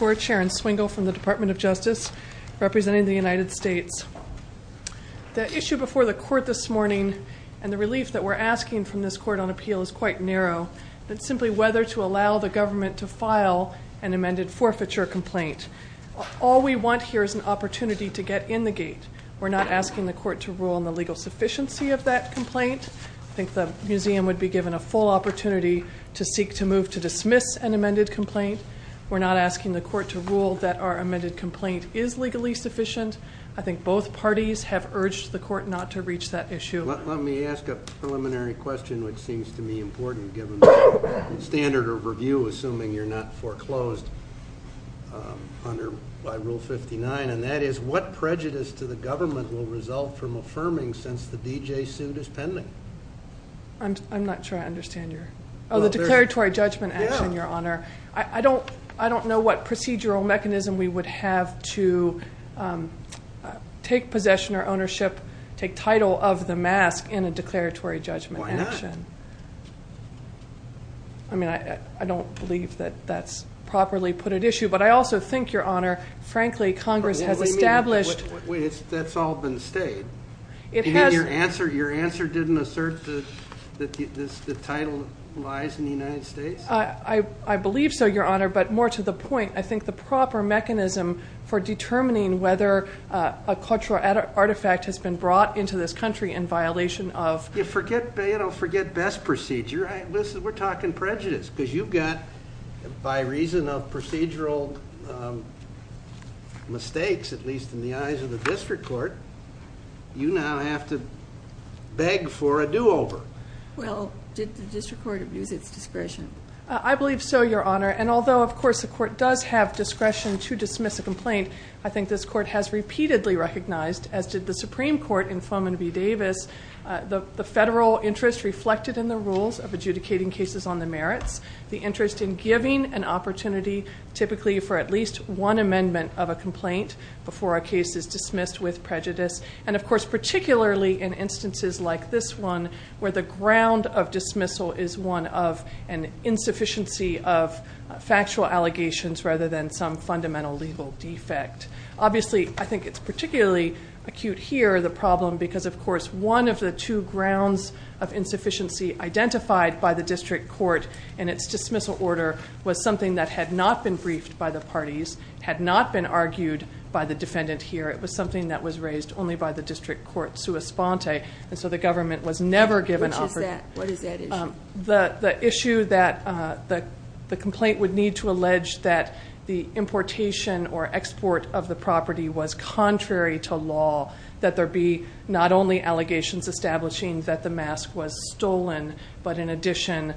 and Swingle from the Department of Justice representing the United States. The issue before the court this morning and the relief that we're asking from this court on appeal is quite narrow. It's simply whether to allow the government to file an amended forfeiture complaint. All we want here is an opportunity to get in the gate. We're not asking the court to rule on the legal sufficiency of that complaint. I think the museum would be given a full opportunity to seek to move to dismiss an amended complaint. We're not asking the court to rule that our amended complaint is legally sufficient. I think both parties have urged the court not to reach that issue. Let me ask a preliminary question which seems to me important given the standard of review assuming you're not foreclosed under by Rule 59 and that is what prejudice to the government will result from affirming since the D.J. suit is pending? I'm not sure I understand your... Oh, the declaratory judgment action, Your Honor. I don't know what procedural mechanism we would have to take possession or ownership, take title of the mask in a declaratory judgment action. Why not? I mean, I don't believe that that's properly put at issue, but I also think, Your Honor, frankly, Congress has established... Wait, that's all been stayed. Your answer didn't assert that the title lies in the United States? I believe so, Your Honor, but more to the point, I think the proper mechanism for determining whether a cultural artifact has been brought into this country in violation of... You forget best procedure. Listen, we're talking prejudice because you've got, by reason of procedural mistakes, at least in the eyes of the district court, you now have to beg for a do-over. Well, did the district court abuse its discretion? I believe so, Your Honor, and although, of course, the court does have discretion to dismiss a complaint, I think this court has repeatedly recognized, as did the Supreme Court in Foman v. Davis, the federal interest reflected in the rules of adjudicating cases on the merits, the interest in giving an opportunity typically for at least one amendment of a complaint before a case is dismissed with prejudice, and of course, particularly in the ground of dismissal is one of an insufficiency of factual allegations rather than some fundamental legal defect. Obviously, I think it's particularly acute here, the problem, because, of course, one of the two grounds of insufficiency identified by the district court in its dismissal order was something that had not been briefed by the parties, had not been argued by the defendant here, it was something that was raised only by the district court sua sponte, and so the What is that issue? The issue that the complaint would need to allege that the importation or export of the property was contrary to law, that there be not only allegations establishing that the mask was stolen, but in addition,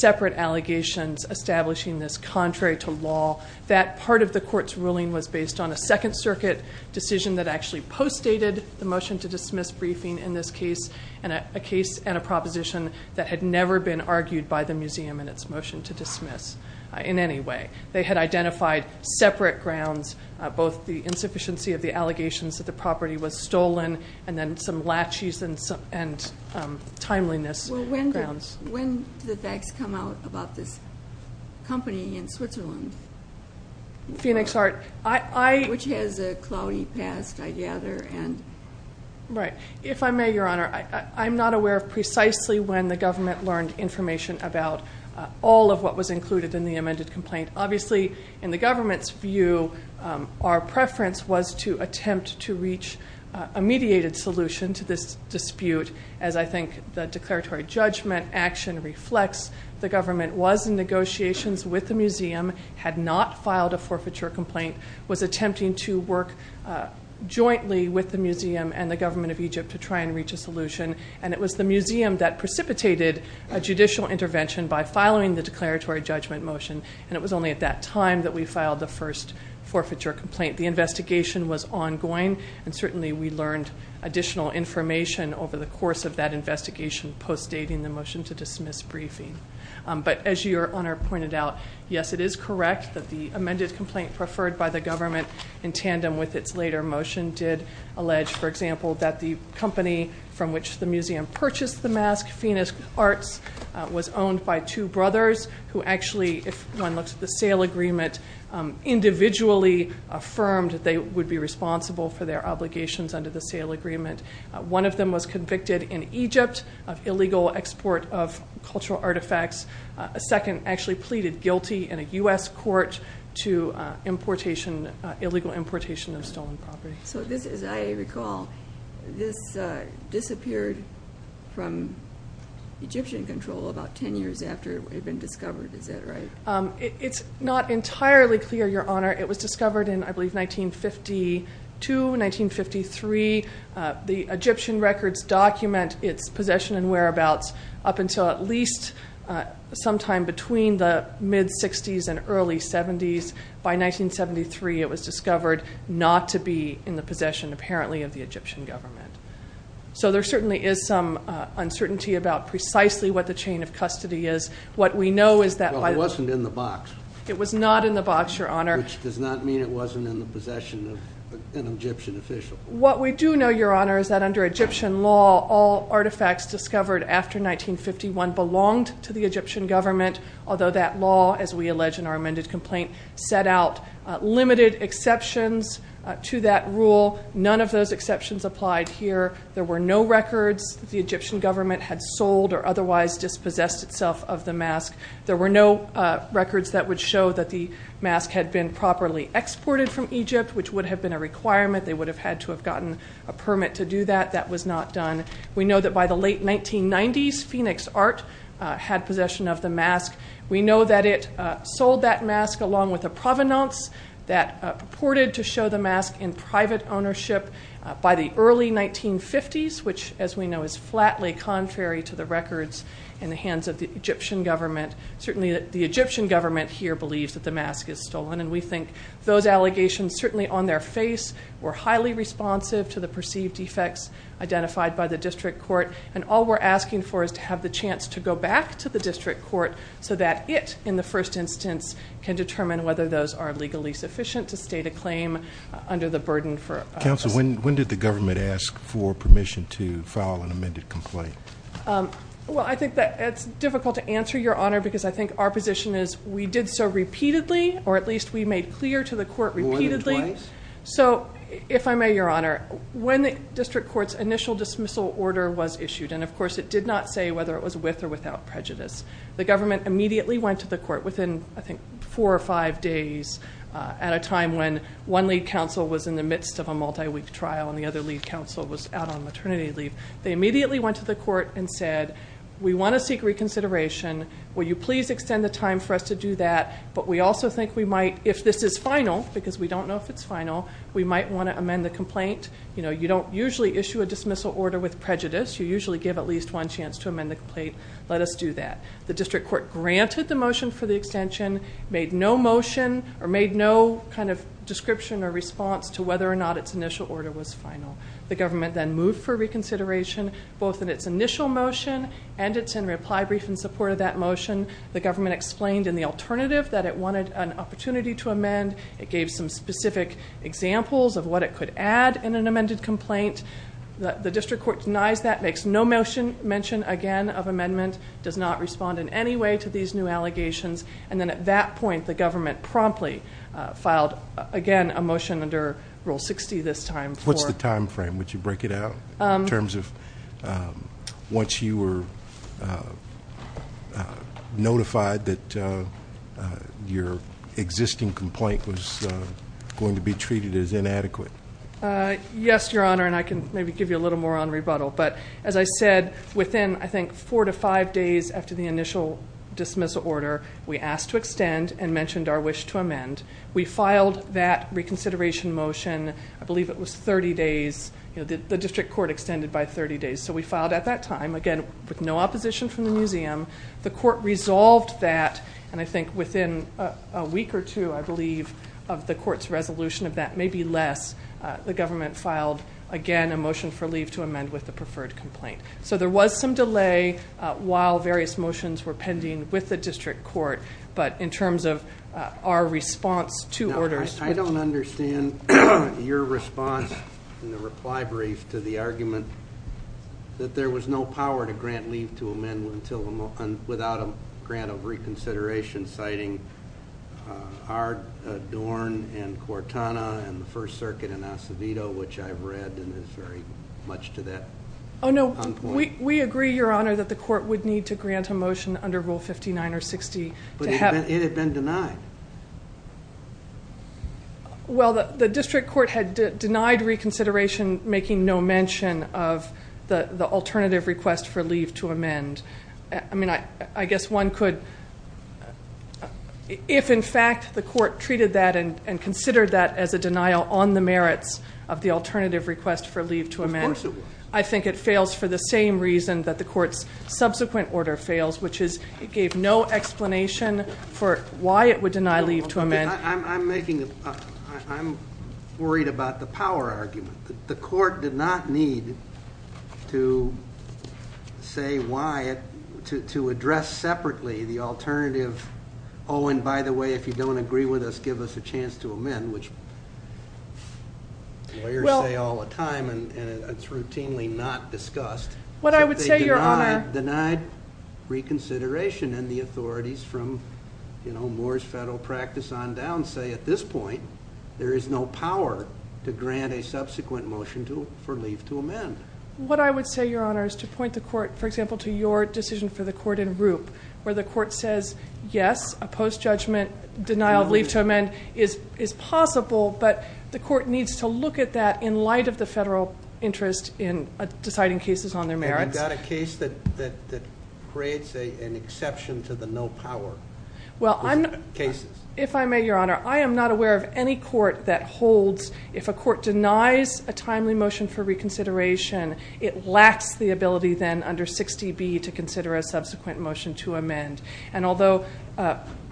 separate allegations establishing this contrary to law, that part of the court's ruling was based on a Second Circuit decision that actually postdated the motion to dismiss briefing in this case, and a case and a proposition that had never been argued by the museum in its motion to dismiss in any way. They had identified separate grounds, both the insufficiency of the allegations that the property was stolen, and then some latches and timeliness grounds. Well, when do the facts come out about this company in Switzerland? Phoenix Art. Which has a cloudy past, I gather. Right. If I may, Your Honor, I'm not aware of precisely when the government learned information about all of what was included in the amended complaint. Obviously, in the government's view, our preference was to attempt to reach a mediated solution to this dispute, as I think the declaratory judgment action reflects. The government was in negotiations with the museum, had not filed a forfeiture complaint, was attempting to work jointly with the museum and the government of Egypt to try and reach a solution, and it was the museum that precipitated a judicial intervention by following the declaratory judgment motion, and it was only at that time that we filed the first forfeiture complaint. The investigation was ongoing, and certainly we learned additional information over the But as Your Honor pointed out, yes, it is correct that the amended complaint preferred by the government in tandem with its later motion did allege, for example, that the company from which the museum purchased the mask, Phoenix Arts, was owned by two brothers who actually, if one looks at the sale agreement, individually affirmed that they would be responsible for their obligations under the sale agreement. One of them was convicted in Egypt of illegal export of cultural artifacts. A second actually pleaded guilty in a U.S. court to illegal importation of stolen property. So this, as I recall, this disappeared from Egyptian control about 10 years after it had been discovered, is that right? It's not entirely clear, Your Honor. It was discovered in, I believe, 1952, 1953. The Egyptian records document its possession and whereabouts up until at least sometime between the mid-'60s and early-'70s. By 1973, it was discovered not to be in the possession, apparently, of the Egyptian government. So there certainly is some uncertainty about precisely what the chain of custody is. What we know is that, by the way- Well, it wasn't in the box. It was not in the box, Your Honor. Which does not mean it wasn't in the possession of an Egyptian official. What we do know, Your Honor, is that under Egyptian law, all artifacts discovered after 1951 belonged to the Egyptian government, although that law, as we allege in our amended complaint, set out limited exceptions to that rule. None of those exceptions applied here. There were no records that the Egyptian government had sold or otherwise dispossessed itself of the mask. There were no records that would show that the mask had been properly exported from Egypt, which would have been a requirement. They would have had to have gotten a permit to do that. That was not done. We know that by the late 1990s, Phoenix Art had possession of the mask. We know that it sold that mask along with a provenance that purported to show the mask in private ownership by the early 1950s, which, as we know, is flatly contrary to the records in the hands of the Egyptian government. Certainly, the Egyptian government here believes that the mask is stolen, and we think those allegations, certainly on their face, were highly responsive to the perceived defects identified by the district court. And all we're asking for is to have the chance to go back to the district court so that it, in the first instance, can determine whether those are legally sufficient to state a claim under the burden for- Counsel, when did the government ask for permission to file an amended complaint? Well, I think that it's difficult to answer, Your Honor, because I think our position is we did so repeatedly, or at least we made clear to the court repeatedly. More than twice? So if I may, Your Honor, when the district court's initial dismissal order was issued, and of course, it did not say whether it was with or without prejudice, the government immediately went to the court within, I think, four or five days at a time when one lead counsel was in the midst of a multi-week trial and the other lead counsel was out on maternity leave. They immediately went to the court and said, we want to seek reconsideration. Will you please extend the time for us to do that? But we also think we might, if this is final, because we don't know if it's final, we might want to amend the complaint. You know, you don't usually issue a dismissal order with prejudice. You usually give at least one chance to amend the complaint. Let us do that. The district court granted the motion for the extension, made no motion or made no kind of description or response to whether or not its initial order was final. The government then moved for reconsideration, both in its initial motion and its in reply brief in support of that motion. The government explained in the alternative that it wanted an opportunity to amend. It gave some specific examples of what it could add in an amended complaint. The district court denies that, makes no mention again of amendment, does not respond in any way to these new allegations. And then at that point, the government promptly filed, again, a motion under Rule 60 this time for- Would you break it out in terms of once you were notified that your existing complaint was going to be treated as inadequate? Yes, Your Honor, and I can maybe give you a little more on rebuttal. But as I said, within, I think, four to five days after the initial dismissal order, we asked to extend and mentioned our wish to amend. We filed that reconsideration motion. I believe it was 30 days. The district court extended by 30 days. So we filed at that time, again, with no opposition from the museum. The court resolved that. And I think within a week or two, I believe, of the court's resolution of that, maybe less, the government filed, again, a motion for leave to amend with the preferred complaint. So there was some delay while various motions were pending with the district court. But in terms of our response to orders- Your response in the reply brief to the argument that there was no power to grant leave to amend without a grant of reconsideration, citing Ardorn and Cortana and the First Circuit and Acevedo, which I've read, and it's very much to that- Oh, no, we agree, Your Honor, that the court would need to grant a motion under Rule 59 or 60 to have- It had been denied. Well, the district court had denied reconsideration, making no mention of the alternative request for leave to amend. I mean, I guess one could, if, in fact, the court treated that and considered that as a denial on the merits of the alternative request for leave to amend- Of course it would. I think it fails for the same reason that the court's subsequent order fails, which is it gave no explanation for why it would deny leave to amend. I'm worried about the power argument. The court did not need to say why, to address separately the alternative, oh, and by the way, if you don't agree with us, give us a chance to amend, which lawyers say all the time and it's routinely not discussed. What I would say, Your Honor- Denied reconsideration and the authorities from Moore's federal practice on down say at this point, there is no power to grant a subsequent motion for leave to amend. What I would say, Your Honor, is to point the court, for example, to your decision for the court in Roop, where the court says, yes, a post-judgment denial of leave to amend is possible, but the court needs to look at that in light of the federal interest in deciding cases on their merits. Have you got a case that creates an exception to the no power cases? If I may, Your Honor, I am not aware of any court that holds, if a court denies a timely motion for reconsideration, it lacks the ability then under 60B to consider a subsequent motion to amend. And although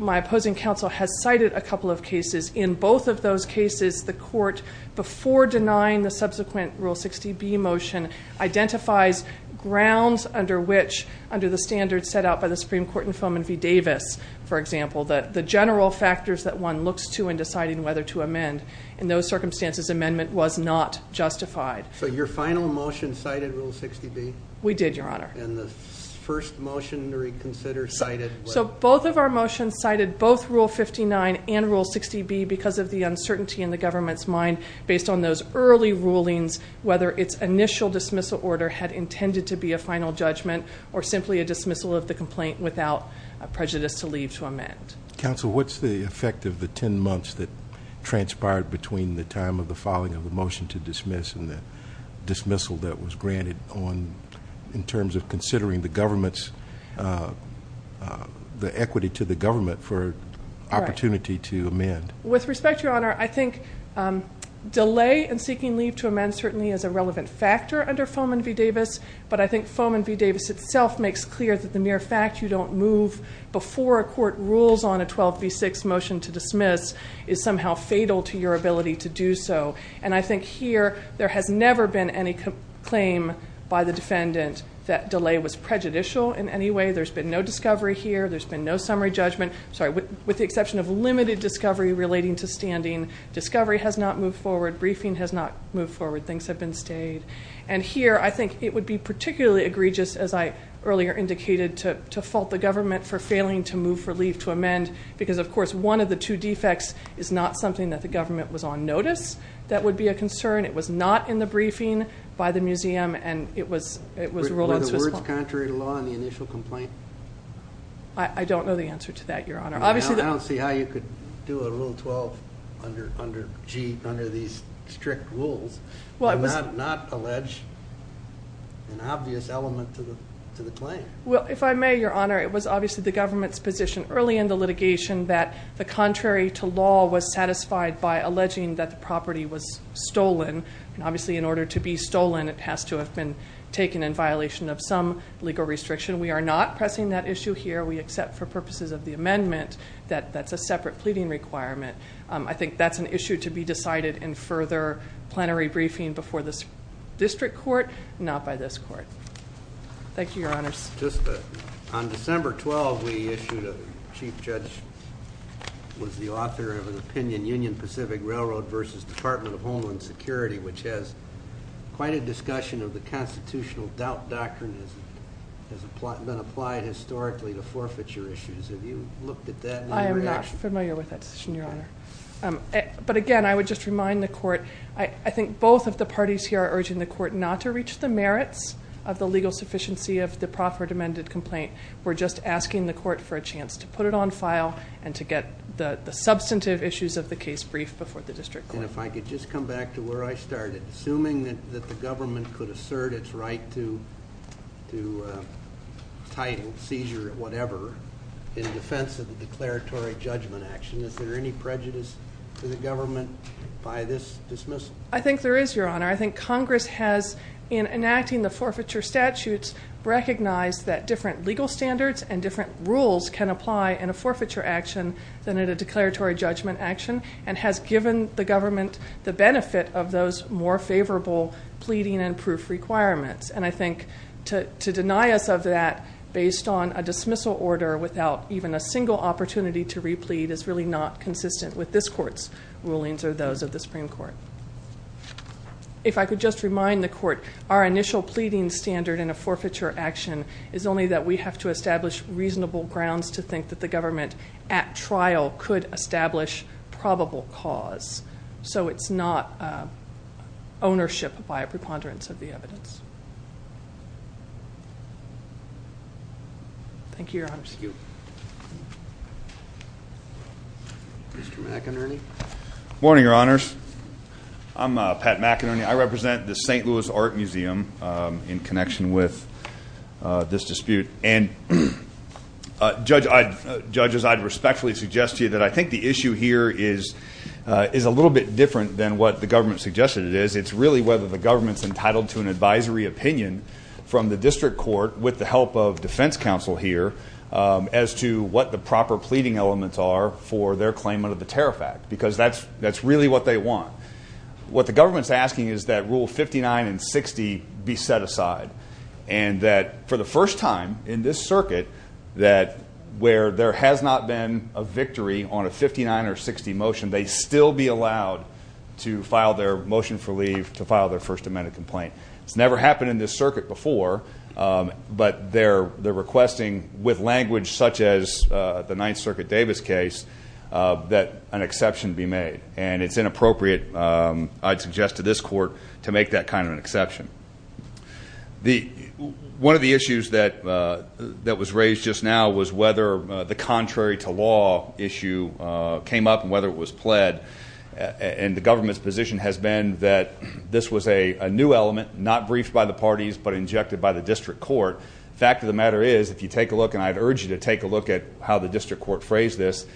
my opposing counsel has cited a couple of cases, in both of those cases, the court, before denying the subsequent Rule 60B motion, identifies grounds under which, under the standards set out by the Supreme Court in Foman v. Davis, for example, the general factors that one looks to in deciding whether to amend. In those circumstances, amendment was not justified. So your final motion cited Rule 60B? We did, Your Honor. And the first motion to reconsider cited- So both of our motions cited both Rule 59 and Rule 60B because of the uncertainty in the government's mind based on those early rulings, whether its initial dismissal order had intended to be a final judgment or simply a dismissal of the complaint without prejudice to leave to amend. Counsel, what's the effect of the 10 months that transpired between the time of the filing of the motion to dismiss and the dismissal that was granted in terms of considering the government's, the equity to the government for opportunity to amend? With respect, Your Honor, I think delay in seeking leave to amend certainly is a relevant factor under Foman v. Davis, but I think Foman v. Davis itself makes clear that the mere fact you don't move before a court rules on a 12b6 motion to dismiss is somehow fatal to your ability to do so. And I think here, there has never been any claim by the defendant that delay was prejudicial in any way. There's been no discovery here. There's been no summary judgment. With the exception of limited discovery relating to standing, discovery has not moved forward. Briefing has not moved forward. Things have been stayed. And here, I think it would be particularly egregious, as I earlier indicated, to fault the government for failing to move for leave to amend because, of course, one of the two defects is not something that the government was on notice. That would be a concern. It was not in the briefing by the museum, and it was ruled unsuitable. Were the words contrary to law in the initial complaint? I don't know the answer to that, Your Honor. I don't see how you could do a Rule 12 under these strict rules and not allege an obvious element to the claim. Well, if I may, Your Honor, it was obviously the government's position early in the litigation that the contrary to law was satisfied by alleging that the property was stolen. And obviously, in order to be stolen, it has to have been taken in violation of some legal restriction. We are not pressing that issue here. We accept, for purposes of the amendment, that that's a separate pleading requirement. I think that's an issue to be decided in further plenary briefing before this district court, not by this court. Thank you, Your Honors. Just on December 12, we issued a Chief Judge was the author of an opinion, Union Pacific Railroad versus Department of Homeland Security, which has quite a discussion of the constitutional doubt doctrine has been applied historically to forfeiture issues. Have you looked at that? I am not familiar with that decision, Your Honor. But again, I would just remind the court, I think both of the parties here are urging the court not to reach the merits of the legal sufficiency of the proffered amended complaint. We're just asking the court for a chance to put it on file and to get the substantive issues of the case brief before the district court. And if I could just come back to where I started, assuming that the government could assert its right to title, seizure, whatever, in defense of the declaratory judgment action, is there any prejudice to the government by this dismissal? I think there is, Your Honor. I think Congress has, in enacting the forfeiture statutes, recognized that different legal standards and different rules can apply in a forfeiture action than in a declaratory judgment action, and has given the government the benefit of those more favorable pleading and proof requirements. And I think to deny us of that based on a dismissal order without even a single opportunity to replete is really not consistent with this court's rulings or those of the Supreme Court. If I could just remind the court, our initial pleading standard in a forfeiture action is only that we have to establish reasonable grounds to think that the government at trial could establish probable cause. So it's not ownership by a preponderance of the evidence. Thank you, Your Honors. Thank you. Mr. McInerney? Morning, Your Honors. I'm Pat McInerney. I represent the St. Louis Art Museum in connection with this dispute. And judges, I'd respectfully suggest to you that I think the issue here is a little bit different than what the government suggested it is. It's really whether the government's entitled to an advisory opinion from the district court with the help of defense counsel here as to what the proper pleading elements are for their claimant of the terror fact, because that's really what they want. What the government's asking is that Rule 59 and 60 be set aside, and that for the first time in this circuit where there has not been a victory on a 59 or 60 motion, they still be allowed to file their motion for leave to file their First Amendment complaint. It's never happened in this circuit before, but they're requesting with language such as the Ninth Circuit Davis case that an exception be made. And it's inappropriate, I'd suggest to this court, to make that kind of an exception. One of the issues that was raised just now was whether the contrary to law issue came up and whether it was pled, and the government's position has been that this was a new element, not briefed by the parties, but injected by the district court. The fact of the matter is, if you take a look, and I'd urge you to take a look at how the district court phrased this,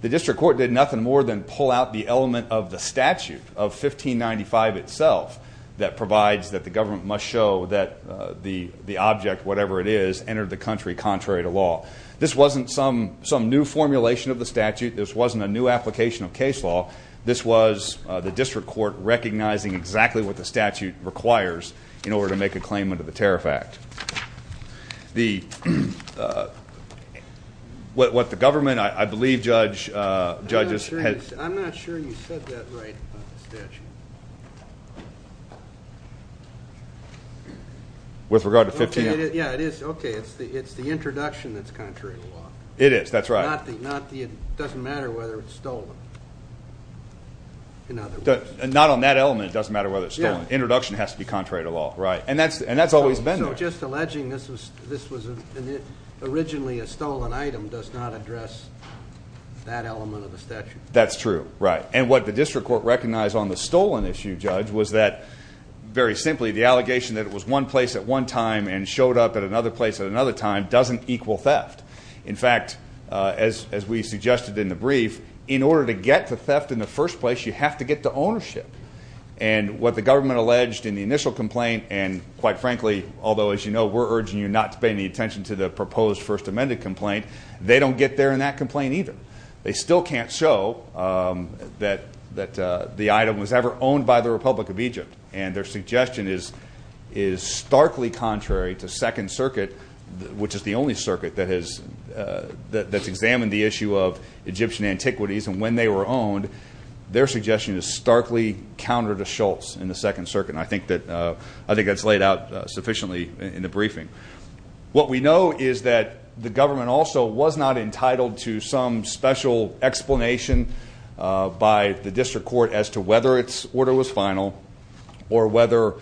the district court did nothing more than pull out the element of the statute of 1595 itself that provides that the government must show that the object, whatever it is, entered the country contrary to law. This wasn't some new formulation of the statute. This wasn't a new application of case law. This was the district court recognizing exactly what the statute requires in order to make a claim under the Tariff Act. The, what the government, I believe judge, judges had- I'm not sure you said that right about the statute. With regard to 15- Yeah, it is. Okay, it's the introduction that's contrary to law. It is, that's right. Not the, it doesn't matter whether it's stolen, in other words. Not on that element, it doesn't matter whether it's stolen. Introduction has to be contrary to law, right. And that's always been there. So just alleging this was originally a stolen item does not address that element of the statute. That's true, right. And what the district court recognized on the stolen issue, judge, was that very simply the allegation that it was one place at one time and showed up at another place at another time doesn't equal theft. In fact, as we suggested in the brief, in order to get to theft in the first place, you have to get to ownership. And what the government alleged in the initial complaint, and quite frankly, although as you know, we're urging you not to pay any attention to the proposed first amended complaint, they don't get there in that complaint either. They still can't show that the item was ever owned by the Republic of Egypt. And their suggestion is starkly contrary to Second Circuit, which is the only circuit that's examined the issue of Egyptian antiquities. And when they were owned, their suggestion is starkly counter to Schultz in the Second Circuit. And I think that's laid out sufficiently in the briefing. What we know is that the government also was not entitled to some special explanation by the district court as to whether its order was final or whether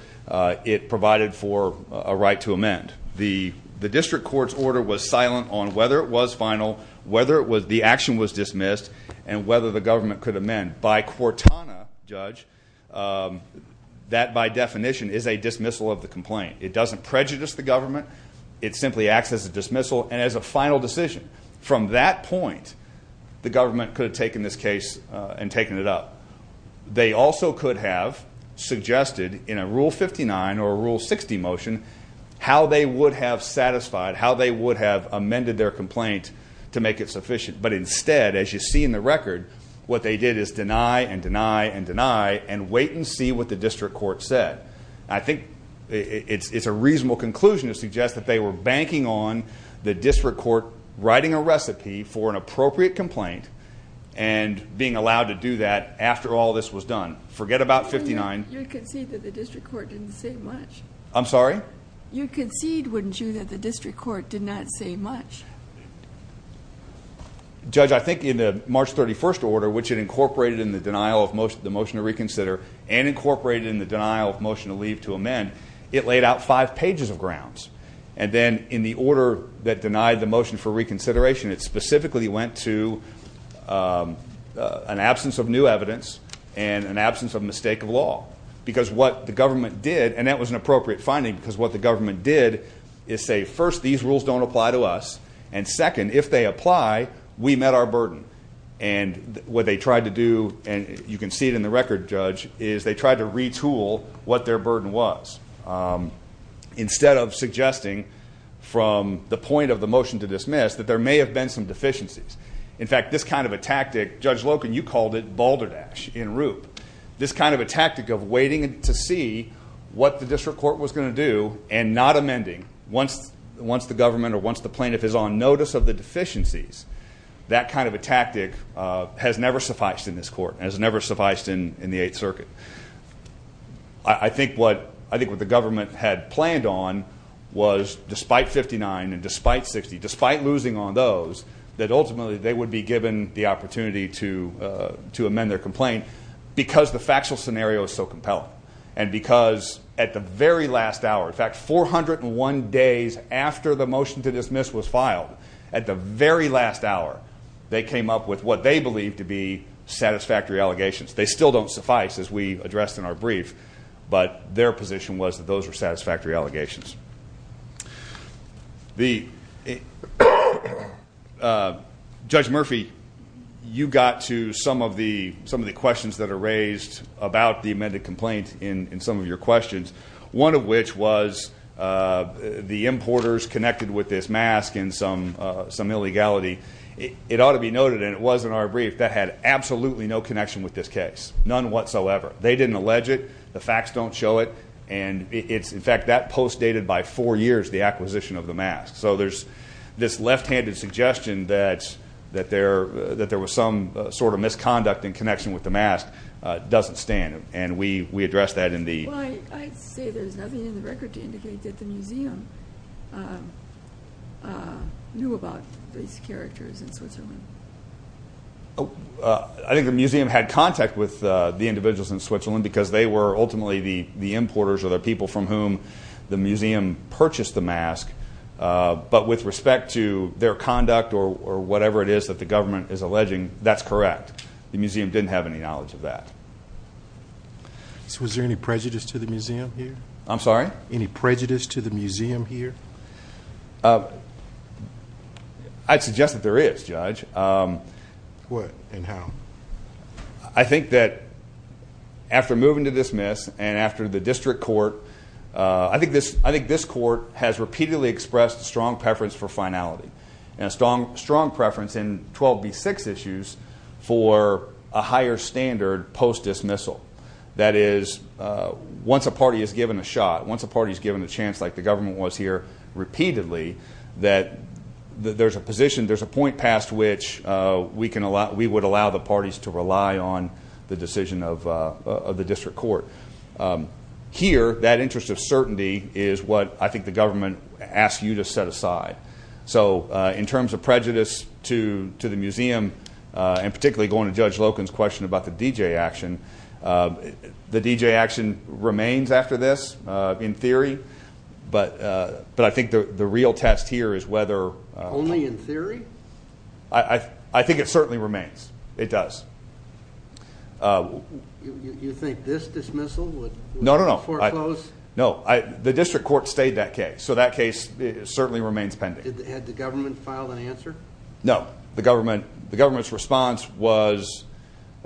it provided for a right to amend. The district court's order was silent on whether it was final, whether the action was dismissed, and whether the government could amend. By Cortana, Judge, that by definition is a dismissal of the complaint. It doesn't prejudice the government. It simply acts as a dismissal and as a final decision. From that point, the government could have taken this case and taken it up. They also could have suggested in a Rule 59 or Rule 60 motion how they would have satisfied, how they would have amended their complaint to make it sufficient. But instead, as you see in the record, what they did is deny and deny and deny and wait and see what the district court said. I think it's a reasonable conclusion to suggest that they were banking on the district court writing a recipe for an appropriate complaint and being allowed to do that after all this was done. Forget about 59. You concede that the district court didn't say much. I'm sorry? You concede, wouldn't you, that the district court did not say much? Judge, I think in the March 31st order, which it incorporated in the denial of the motion to reconsider and incorporated in the denial of motion to leave to amend, it laid out five pages of grounds. And then in the order that denied the motion for reconsideration, it specifically went to an absence of new evidence and an absence of mistake of law. Because what the government did, and that was an appropriate finding because what the government did is say, first, these rules don't apply to us. And second, if they apply, we met our burden. And what they tried to do, and you can see it in the record, Judge, is they tried to retool what their burden was instead of suggesting from the point of the motion to dismiss that there may have been some deficiencies. In fact, this kind of a tactic, Judge Loken, you called it balderdash en route. This kind of a tactic of waiting to see what the district court was going to do and not on notice of the deficiencies, that kind of a tactic has never sufficed in this court and has never sufficed in the Eighth Circuit. I think what the government had planned on was despite 59 and despite 60, despite losing on those, that ultimately they would be given the opportunity to amend their complaint because the factual scenario is so compelling. And because at the very last hour, in fact, 401 days after the motion to dismiss was filed, at the very last hour, they came up with what they believe to be satisfactory allegations. They still don't suffice as we addressed in our brief, but their position was that those were satisfactory allegations. Judge Murphy, you got to some of the questions that are raised about the amended complaint. In some of your questions, one of which was the importers connected with this mask and some illegality. It ought to be noted, and it was in our brief, that had absolutely no connection with this case. None whatsoever. They didn't allege it. The facts don't show it. And in fact, that post dated by four years, the acquisition of the mask. So there's this left-handed suggestion that there was some sort of misconduct in connection with the mask doesn't stand. And we addressed that in the... Well, I'd say there's nothing in the record to indicate that the museum knew about these characters in Switzerland. I think the museum had contact with the individuals in Switzerland because they were ultimately the importers or the people from whom the museum purchased the mask. But with respect to their conduct or whatever it is that the government is alleging, that's correct. The museum didn't have any knowledge of that. Was there any prejudice to the museum here? I'm sorry? Any prejudice to the museum here? I'd suggest that there is, Judge. What and how? I think that after moving to dismiss and after the district court, I think this court has repeatedly expressed a strong preference for finality and a strong preference in 12B6 issues for a higher standard post dismissal. That is, once a party is given a shot, once a party is given a chance like the government was here repeatedly, that there's a position, there's a point past which we would allow the parties to rely on the decision of the district court. Here, that interest of certainty is what I think the government asked you to set aside. So in terms of prejudice to the museum, and particularly going to Judge Loken's question about the D.J. action, the D.J. action remains after this in theory, but I think the real test here is whether- Only in theory? I think it certainly remains. It does. You think this dismissal would- No, no, no. Foreclose? No, the district court stayed that case. So that case certainly remains pending. Had the government filed an answer? No, the government's response was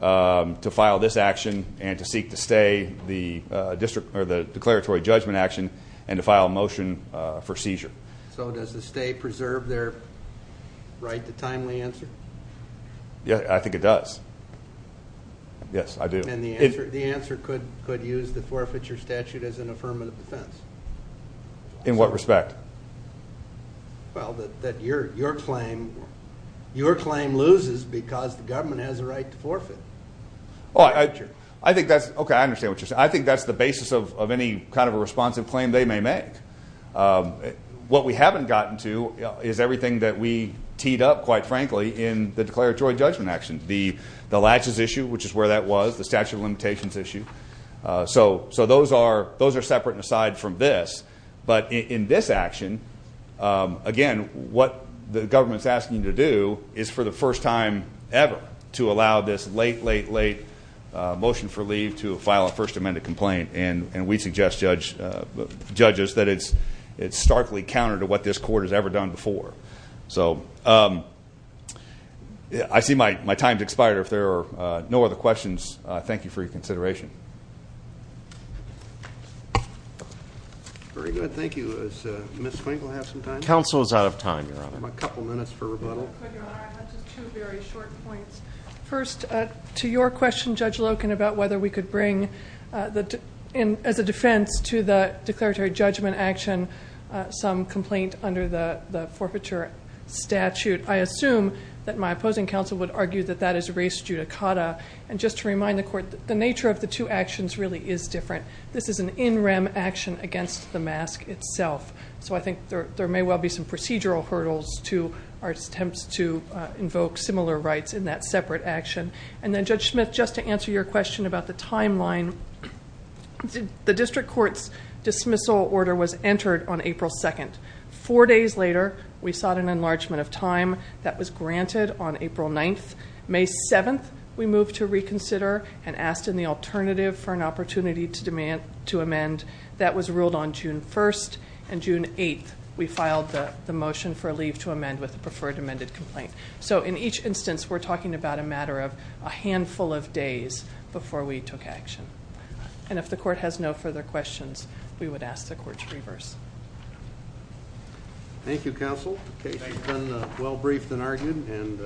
to file this action and to seek to stay the declaratory judgment action and to file a motion for seizure. So does the state preserve their right to timely answer? Yeah, I think it does. Yes, I do. And the answer could use the forfeiture statute as an affirmative defense? In what respect? Well, that your claim loses because the government has a right to forfeit. Oh, I think that's- Okay, I understand what you're saying. I think that's the basis of any kind of a responsive claim they may make. What we haven't gotten to is everything that we teed up, quite frankly, in the declaratory judgment action. The latches issue, which is where that was, the statute of limitations issue. So those are separate and aside from this. But in this action, again, what the government's asking you to do is for the first time ever to allow this late, late, late motion for leave to file a First Amendment complaint. And we suggest, judges, that it's starkly counter to what this court has ever done before. So I see my time's expired. If there are no other questions, thank you for your consideration. Very good. Thank you. Does Ms. Swinkle have some time? Counsel is out of time, Your Honor. A couple minutes for rebuttal. But, Your Honor, I have just two very short points. First, to your question, Judge Loken, about whether we could bring, as a defense, to the declaratory judgment action some complaint under the forfeiture statute. I assume that my opposing counsel would argue that that is race judicata. And just to remind the court, the nature of the two actions really is different. This is an in rem action against the mask itself. So I think there may well be some procedural hurdles to our attempts to invoke similar rights in that separate action. And then, Judge Smith, just to answer your question about the timeline, the district court's dismissal order was entered on April 2nd. Four days later, we sought an enlargement of time. That was granted on April 9th. May 7th, we moved to reconsider and asked in the alternative for an opportunity to amend. That was ruled on June 1st. And June 8th, we filed the motion for a leave to amend with a preferred amended complaint. So in each instance, we're talking about a matter of a handful of days before we took action. And if the court has no further questions, we would ask the court to reverse. Thank you, counsel. The case has been well briefed and argued and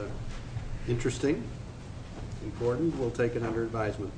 interesting, important. We'll take it under advisement.